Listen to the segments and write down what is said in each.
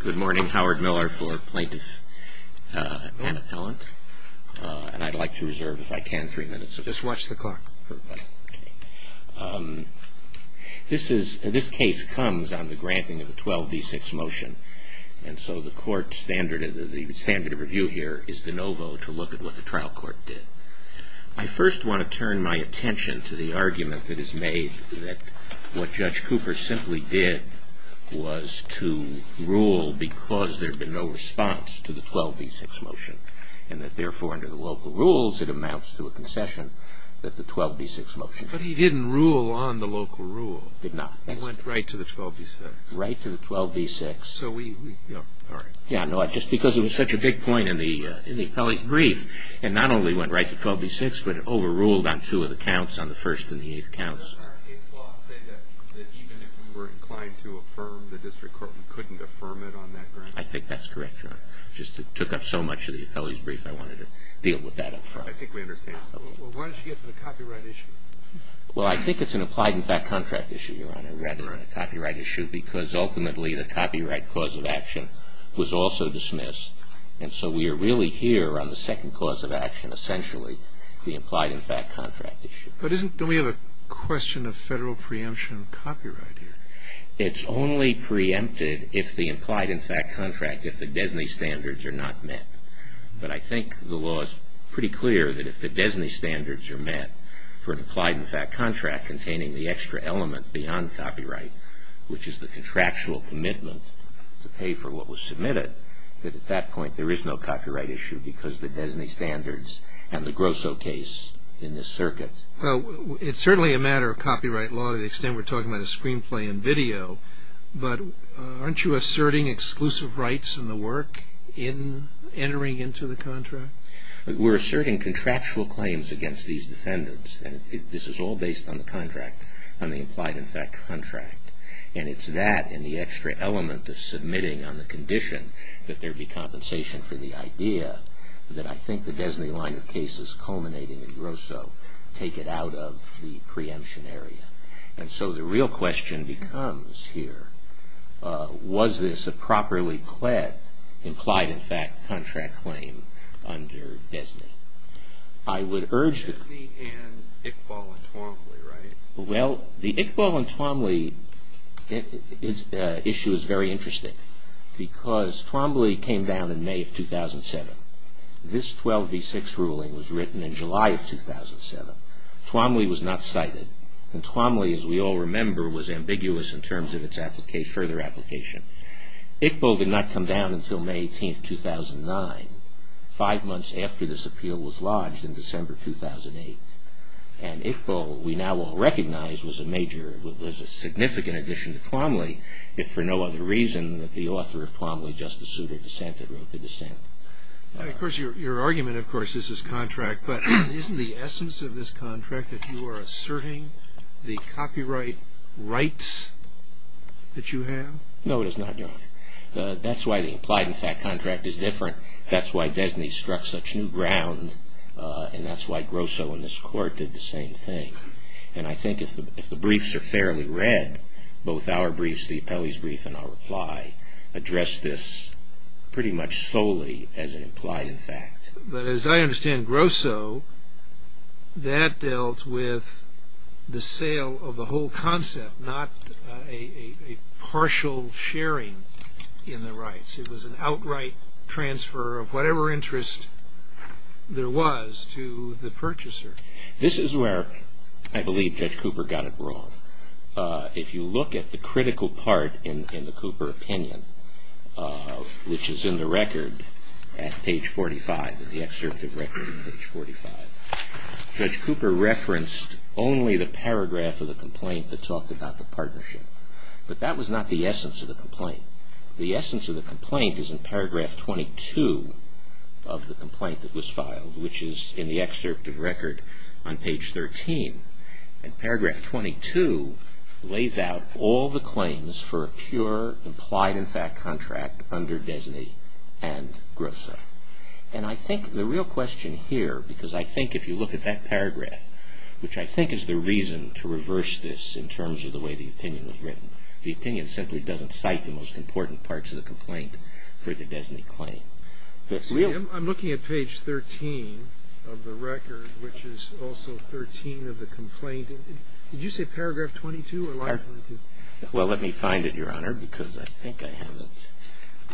Good morning, Howard Miller for Plaintiff and Appellant, and I'd like to reserve, if I can, three minutes. Just watch the clock. Okay. This case comes on the granting of a 12b6 motion, and so the standard of review here is de novo to look at what the trial court did. I first want to turn my attention to the argument that is made that what Judge Cooper simply did was to rule because there had been no response to the 12b6 motion, and that therefore, under the local rules, it amounts to a concession that the 12b6 motion should be granted. But he didn't rule on the local rule. He did not. He went right to the 12b6. Right to the 12b6. Yeah, I know. Just because it was such a big point in the appellee's brief, and not only went right to 12b6, but it overruled on two of the counts, on the first and the eighth counts. I think that's correct, Your Honor. It just took up so much of the appellee's brief, I wanted to deal with that up front. I think we understand. Why don't you get to the copyright issue? Well, I think it's an implied-in-fact contract issue, Your Honor, rather than a copyright issue, because ultimately the copyright cause of action was also dismissed, and so we are really here on the second cause of action, essentially, the implied-in-fact contract issue. But don't we have a question of federal preemption of copyright here? It's only preempted if the implied-in-fact contract, if the DESNY standards are not met. But I think the law is pretty clear that if the DESNY standards are met for an implied-in-fact contract containing the extra element beyond copyright, which is the contractual commitment to pay for what was submitted, that at that point there is no copyright issue, because the DESNY standards and the Grosso case in this circuit. Well, it's certainly a matter of copyright law to the extent we're talking about a screenplay and video, but aren't you asserting exclusive rights in the work in entering into the contract? We're asserting contractual claims against these defendants, and this is all based on the contract, on the implied-in-fact contract. And it's that and the extra element of submitting on the condition that there be compensation for the idea that I think the DESNY line of cases culminating in Grosso take it out of the preemption area. And so the real question becomes here, was this a properly implied-in-fact contract claim under DESNY? DESNY and Iqbal and Twombly, right? Well, the Iqbal and Twombly issue is very interesting, because Twombly came down in May of 2007. This 12v6 ruling was written in July of 2007. Twombly was not cited, and Twombly, as we all remember, was ambiguous in terms of its further application. Iqbal did not come down until May 18, 2009, five months after this appeal was lodged in December 2008. And Iqbal, we now all recognize, was a major, was a significant addition to Twombly, if for no other reason than the author of Twombly, Justice Souter, dissented, wrote the dissent. Now, of course, your argument, of course, is this contract, but isn't the essence of this contract that you are asserting the copyright rights that you have? No, it is not, Your Honor. That's why the implied-in-fact contract is different. That's why DESNY struck such new ground, and that's why Grosso and this Court did the same thing. And I think if the briefs are fairly read, both our briefs, the appellee's brief, and our reply, address this pretty much solely as an implied-in-fact. But as I understand Grosso, that dealt with the sale of the whole concept, not a partial sharing in the rights. It was an outright transfer of whatever interest there was to the purchaser. This is where I believe Judge Cooper got it wrong. If you look at the critical part in the Cooper opinion, which is in the record at page 45, in the excerpt of record at page 45, Judge Cooper referenced only the paragraph of the complaint that talked about the partnership. But that was not the essence of the complaint. The essence of the complaint is in paragraph 22 of the complaint that was filed, which is in the excerpt of record on page 13. And paragraph 22 lays out all the claims for a pure implied-in-fact contract under DESNY and Grosso. And I think the real question here, because I think if you look at that paragraph, which I think is the reason to reverse this in terms of the way the opinion was written, the opinion simply doesn't cite the most important parts of the complaint for the DESNY claim. I'm looking at page 13 of the record, which is also 13 of the complaint. Did you say paragraph 22 or line 22? Well, let me find it, Your Honor, because I think I have it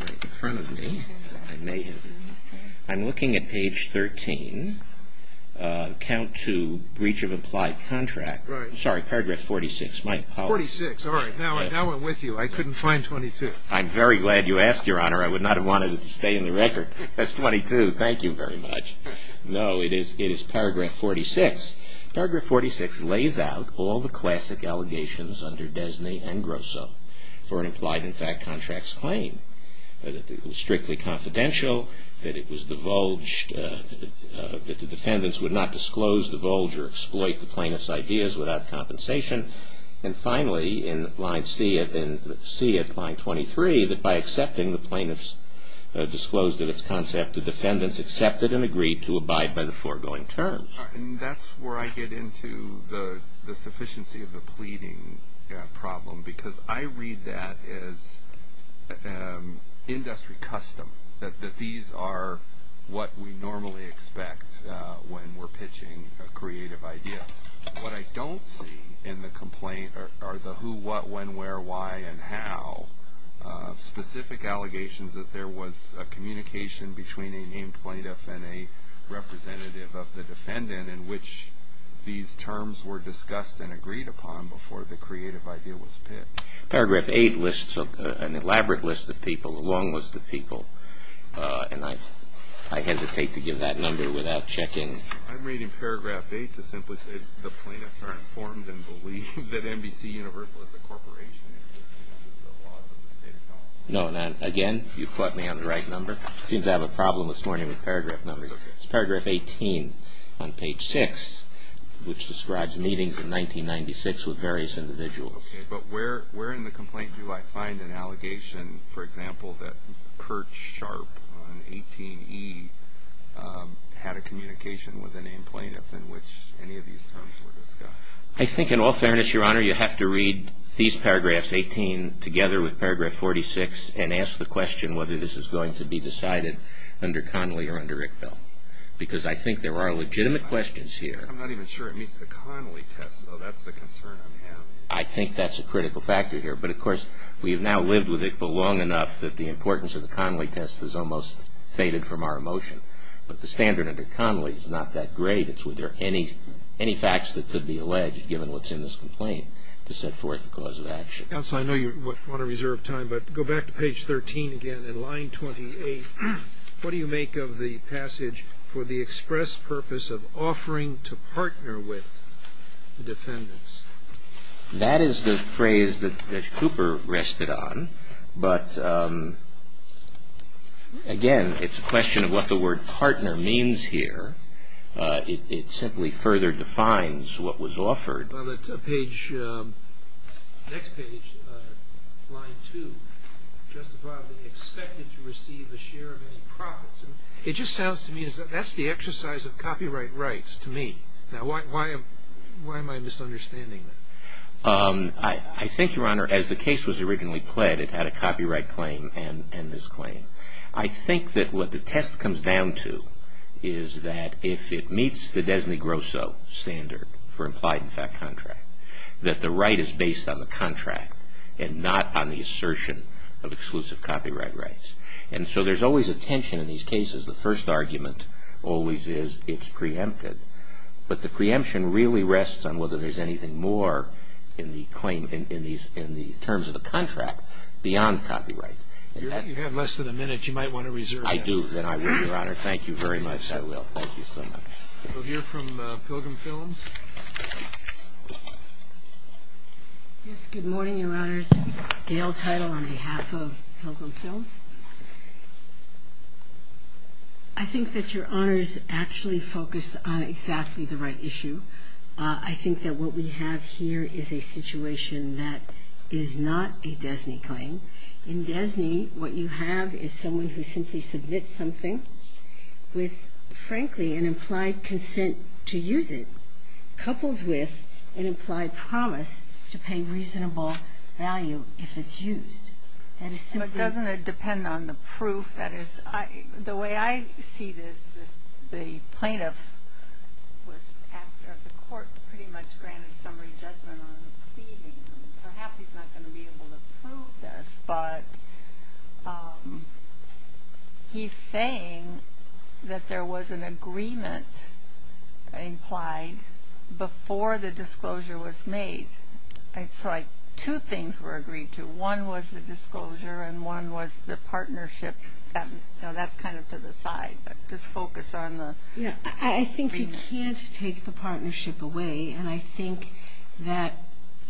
right in front of me. I may have it. I'm looking at page 13, count to breach of implied contract. Sorry, paragraph 46. 46, all right. Now I'm with you. I couldn't find 22. I'm very glad you asked, Your Honor. I would not have wanted it to stay in the record. That's 22. Thank you very much. No, it is paragraph 46. Paragraph 46 lays out all the classic allegations under DESNY and Grosso for an implied-in-fact contract's claim, that it was strictly confidential, that it was divulged, that the defendants would not disclose, divulge, or exploit the plaintiff's ideas without compensation. And finally, in line C of line 23, that by accepting the plaintiff's disclosed-of-its-concept, the defendants accepted and agreed to abide by the foregoing terms. And that's where I get into the sufficiency of the pleading problem, because I read that as industry custom, that these are what we normally expect when we're pitching a creative idea. What I don't see in the complaint are the who, what, when, where, why, and how. Specific allegations that there was a communication between a named plaintiff and a representative of the defendant in which these terms were discussed and agreed upon before the creative idea was pitched. Paragraph 8 lists an elaborate list of people, a long list of people, and I hesitate to give that number without checking. I'm reading paragraph 8 to simply say, the plaintiffs are informed and believe that NBCUniversal is a corporation. No, again, you've caught me on the right number. I seem to have a problem this morning with paragraph numbers. It's paragraph 18 on page 6, which describes meetings in 1996 with various individuals. Okay, but where in the complaint do I find an allegation, for example, that Kurt Sharp on 18E had a communication with a named plaintiff in which any of these terms were discussed? I think in all fairness, Your Honor, you have to read these paragraphs, 18 together with paragraph 46, and ask the question whether this is going to be decided under Connolly or under Iqbal, because I think there are legitimate questions here. I'm not even sure it meets the Connolly test, though. That's the concern I'm having. I think that's a critical factor here. But, of course, we have now lived with Iqbal long enough that the importance of the Connolly test has almost faded from our emotion. But the standard under Connolly is not that great. It's whether there are any facts that could be alleged, given what's in this complaint, to set forth the cause of action. Counsel, I know you want to reserve time, but go back to page 13 again, and line 28. What do you make of the passage, for the express purpose of offering to partner with the defendants? That is the phrase that Cooper rested on. But, again, it's a question of what the word partner means here. It simply further defines what was offered. On the next page, line 2, justifiably expected to receive a share of any profits. It just sounds to me as if that's the exercise of copyright rights to me. Now, why am I misunderstanding that? I think, Your Honor, as the case was originally pled, it had a copyright claim and this claim. I think that what the test comes down to is that if it meets the Desney Grosso standard for implied in fact contract, that the right is based on the contract and not on the assertion of exclusive copyright rights. And so there's always a tension in these cases. The first argument always is it's preempted. But the preemption really rests on whether there's anything more in the terms of the contract beyond copyright. You have less than a minute. You might want to reserve that. I do. Then I will, Your Honor. Thank you very much. I will. Thank you so much. We'll hear from Pilgrim Films. Yes, good morning, Your Honors. Gail Title on behalf of Pilgrim Films. I think that Your Honors actually focused on exactly the right issue. I think that what we have here is a situation that is not a Desney claim. In Desney, what you have is someone who simply submits something with, frankly, an implied consent to use it. Couples with an implied promise to pay reasonable value if it's used. Doesn't it depend on the proof? That is, the way I see this, the plaintiff was after the court pretty much granted summary judgment on the pleading. Perhaps he's not going to be able to prove this. But he's saying that there was an agreement implied before the disclosure was made. It's like two things were agreed to. One was the disclosure and one was the partnership. That's kind of to the side, but just focus on the agreement. I think you can't take the partnership away. And I think that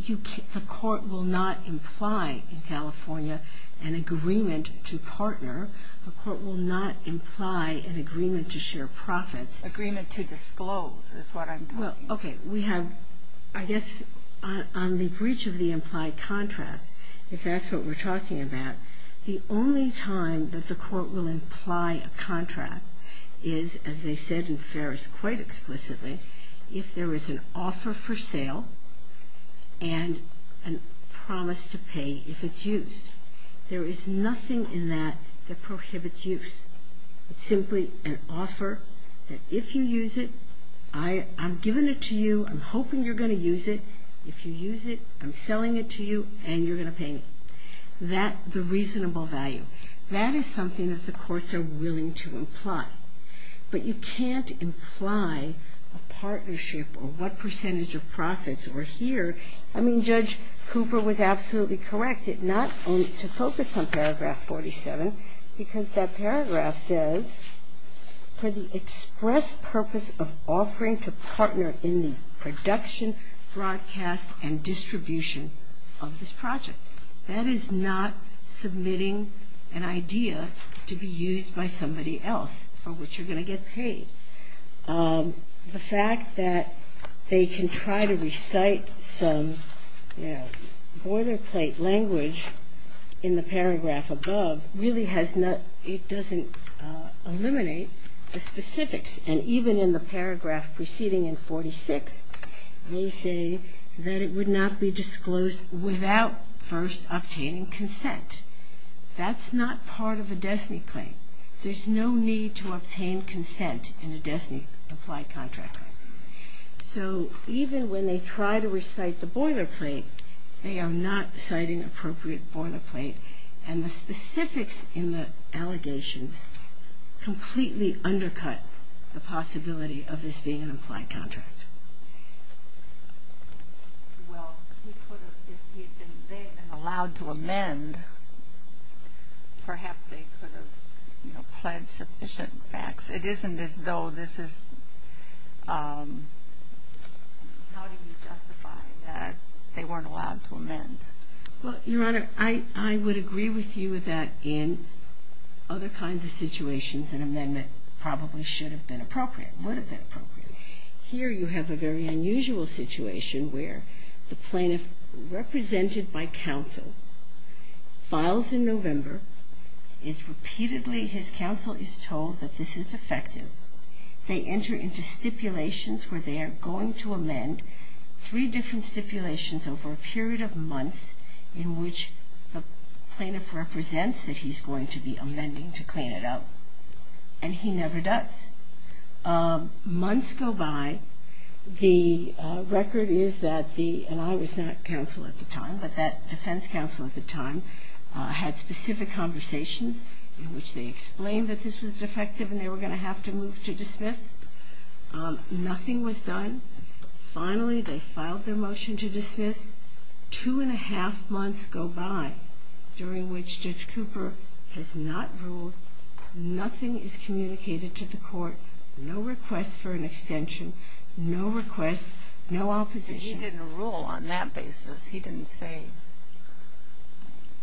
the court will not imply in California an agreement to partner. The court will not imply an agreement to share profits. Agreement to disclose is what I'm talking about. I guess on the breach of the implied contracts, if that's what we're talking about, the only time that the court will imply a contract is, as they said in Ferris quite explicitly, if there is an offer for sale and a promise to pay if it's used. There is nothing in that that prohibits use. It's simply an offer that if you use it, I'm giving it to you. I'm hoping you're going to use it. If you use it, I'm selling it to you and you're going to pay me. The reasonable value, that is something that the courts are willing to imply. But you can't imply a partnership or what percentage of profits were here. I mean, Judge Cooper was absolutely correct not only to focus on paragraph 47 because that paragraph says, for the express purpose of offering to partner in the production, broadcast, and distribution of this project. That is not submitting an idea to be used by somebody else for which you're going to get paid. The fact that they can try to recite some boilerplate language in the paragraph above really has not, it doesn't eliminate the specifics. And even in the paragraph preceding in 46, they say that it would not be disclosed without first obtaining consent. That's not part of a DESNY claim. There's no need to obtain consent in a DESNY applied contract. So even when they try to recite the boilerplate, they are not citing appropriate boilerplate. And the specifics in the allegations completely undercut the possibility of this being an applied contract. Well, he could have, if he had been there and allowed to amend, perhaps they could have pledged sufficient facts. It isn't as though this is, how do you justify that they weren't allowed to amend? Well, Your Honor, I would agree with you that in other kinds of situations, an amendment probably should have been appropriate, would have been appropriate. Here you have a very unusual situation where the plaintiff, represented by counsel, files in November, is repeatedly, his counsel is told that this is defective. They enter into stipulations where they are going to amend three different stipulations over a period of months in which the plaintiff represents that he's going to be amending to clean it up. And he never does. Months go by. The record is that the, and I was not counsel at the time, but that defense counsel at the time, had specific conversations in which they explained that this was defective and they were going to have to move to dismiss. Nothing was done. Finally, they filed their motion to dismiss. Two and a half months go by during which Judge Cooper has not ruled. Nothing is communicated to the court. No requests for an extension. No requests. No opposition. But he didn't rule on that basis. He didn't say,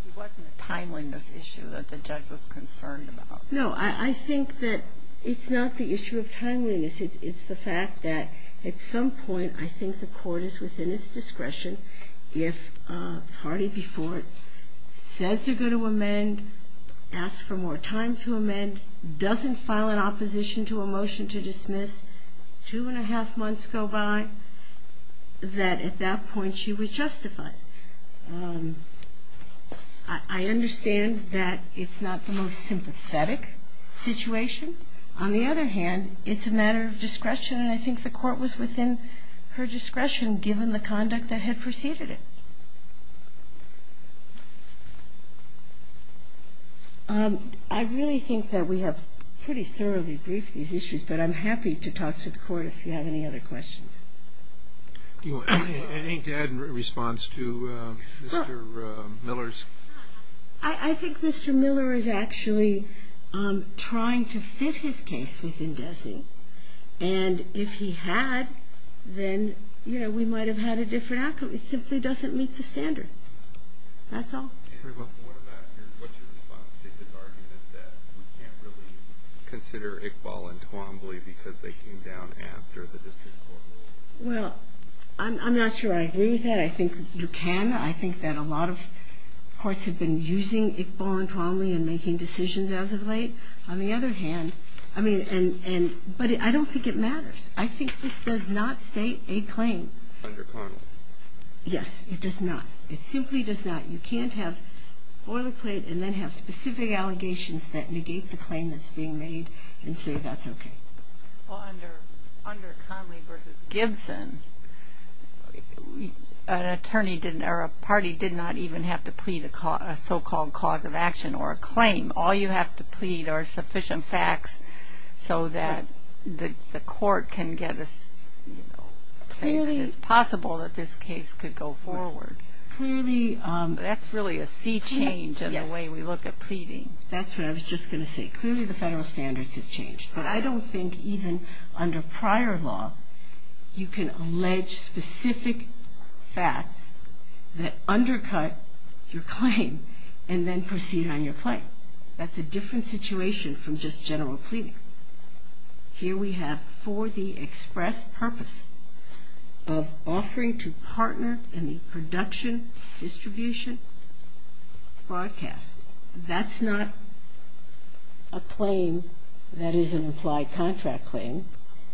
it wasn't a timeliness issue that the judge was concerned about. No, I think that it's not the issue of timeliness. It's the fact that at some point I think the court is within its discretion if a party before it says they're going to amend, asks for more time to amend, doesn't file an opposition to a motion to dismiss, two and a half months go by, that at that point she was justified. I understand that it's not the most sympathetic situation. On the other hand, it's a matter of discretion, and I think the court was within her discretion given the conduct that had preceded it. I really think that we have pretty thoroughly briefed these issues, but I'm happy to talk to the court if you have any other questions. I think to add in response to Mr. Miller's. I think Mr. Miller is actually trying to fit his case within DESE. And if he had, then, you know, we might have had a different outcome. It simply doesn't meet the standards. That's all. What's your response to the argument that we can't really consider Iqbal and Twombly because they came down after the district court ruled? Well, I'm not sure I agree with that. I think you can. I think that a lot of courts have been using Iqbal and Twombly and making decisions as of late. On the other hand, I mean, but I don't think it matters. I think this does not state a claim. Under Conley. Yes, it does not. It simply does not. You can't have boilerplate and then have specific allegations that negate the claim that's being made and say that's okay. Well, under Conley v. Gibson, an attorney didn't, or a party did not even have to plead a so-called cause of action or a claim. All you have to plead are sufficient facts so that the court can get a claim and it's possible that this case could go forward. Clearly. That's really a sea change in the way we look at pleading. That's what I was just going to say. Clearly the federal standards have changed. But I don't think even under prior law you can allege specific facts that undercut your claim and then proceed on your claim. That's a different situation from just general pleading. Here we have for the express purpose of offering to partner in the production, distribution, broadcast. That's not a claim that is an implied contract claim,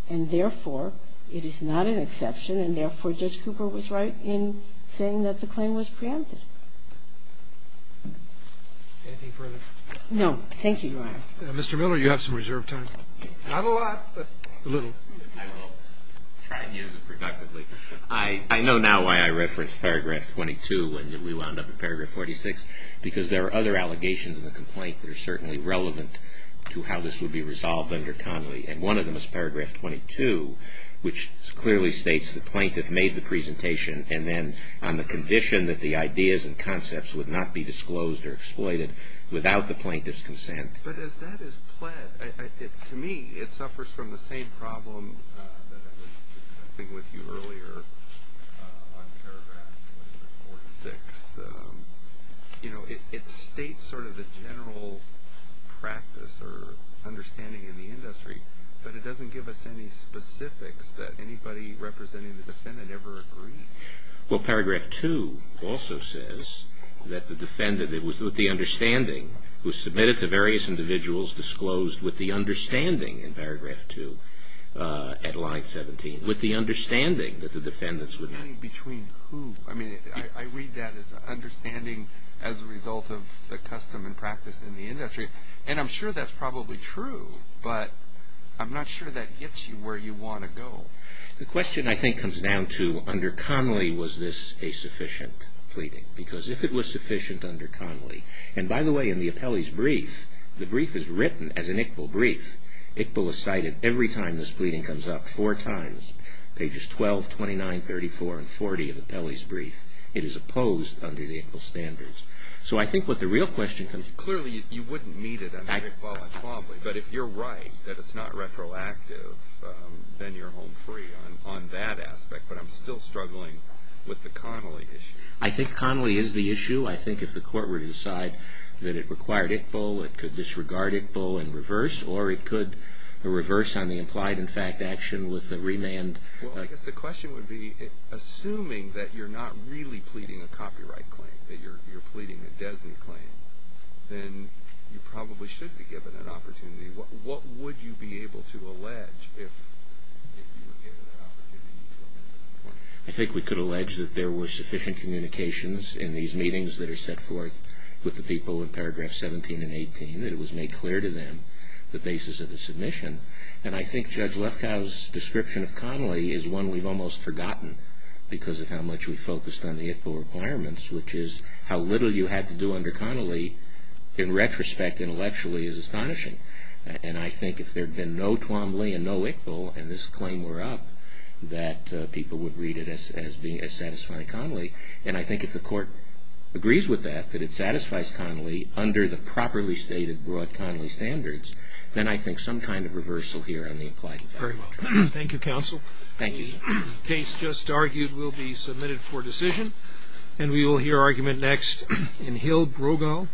and therefore it is not an exception, and therefore Judge Cooper was right in saying that the claim was preempted. Anything further? No. Thank you, Your Honor. Mr. Miller, you have some reserved time. I have a lot, but a little. I will try and use it productively. I know now why I referenced paragraph 22 when we wound up in paragraph 46, because there are other allegations in the complaint that are certainly relevant to how this would be resolved under Connolly, and one of them is paragraph 22, which clearly states the plaintiff made the presentation and then on the condition that the ideas and concepts would not be disclosed or exploited without the plaintiff's consent. But as that is pled, to me it suffers from the same problem that I was discussing with you earlier on paragraph 46. It states sort of the general practice or understanding in the industry, but it doesn't give us any specifics that anybody representing the defendant ever agreed. Well, paragraph 2 also says that the defendant, it was with the understanding was submitted to various individuals disclosed with the understanding in paragraph 2 at line 17, with the understanding that the defendants would not. Between who? I mean, I read that as understanding as a result of the custom and practice in the industry, and I'm sure that's probably true, but I'm not sure that gets you where you want to go. The question, I think, comes down to under Connolly, was this a sufficient pleading? Because if it was sufficient under Connolly, And, by the way, in the appellee's brief, the brief is written as an ICBL brief. ICBL is cited every time this pleading comes up four times, pages 12, 29, 34, and 40 of the appellee's brief. It is opposed under the ICBL standards. So I think what the real question comes. Clearly, you wouldn't meet it under ICBL and Connolly, but if you're right that it's not retroactive, then you're home free on that aspect. But I'm still struggling with the Connolly issue. I think Connolly is the issue. I think if the court were to decide that it required ICBL, it could disregard ICBL and reverse, or it could reverse on the implied-in-fact action with a remand. Well, I guess the question would be, assuming that you're not really pleading a copyright claim, that you're pleading a DESNY claim, then you probably should be given an opportunity. What would you be able to allege if you were given an opportunity? I think we could allege that there were sufficient communications in these meetings that are set forth with the people in Paragraph 17 and 18 that it was made clear to them the basis of the submission. And I think Judge Lefkow's description of Connolly is one we've almost forgotten because of how much we focused on the ICBL requirements, which is how little you had to do under Connolly, in retrospect, intellectually, is astonishing. And I think if there had been no Twombly and no ICBL and this claim were up, that people would read it as satisfying Connolly. And I think if the Court agrees with that, that it satisfies Connolly under the properly stated, broad Connolly standards, then I think some kind of reversal here on the implied-in-fact. Thank you, Counsel. Thank you. The case just argued will be submitted for decision. And we will hear argument next in Hill-Brogall.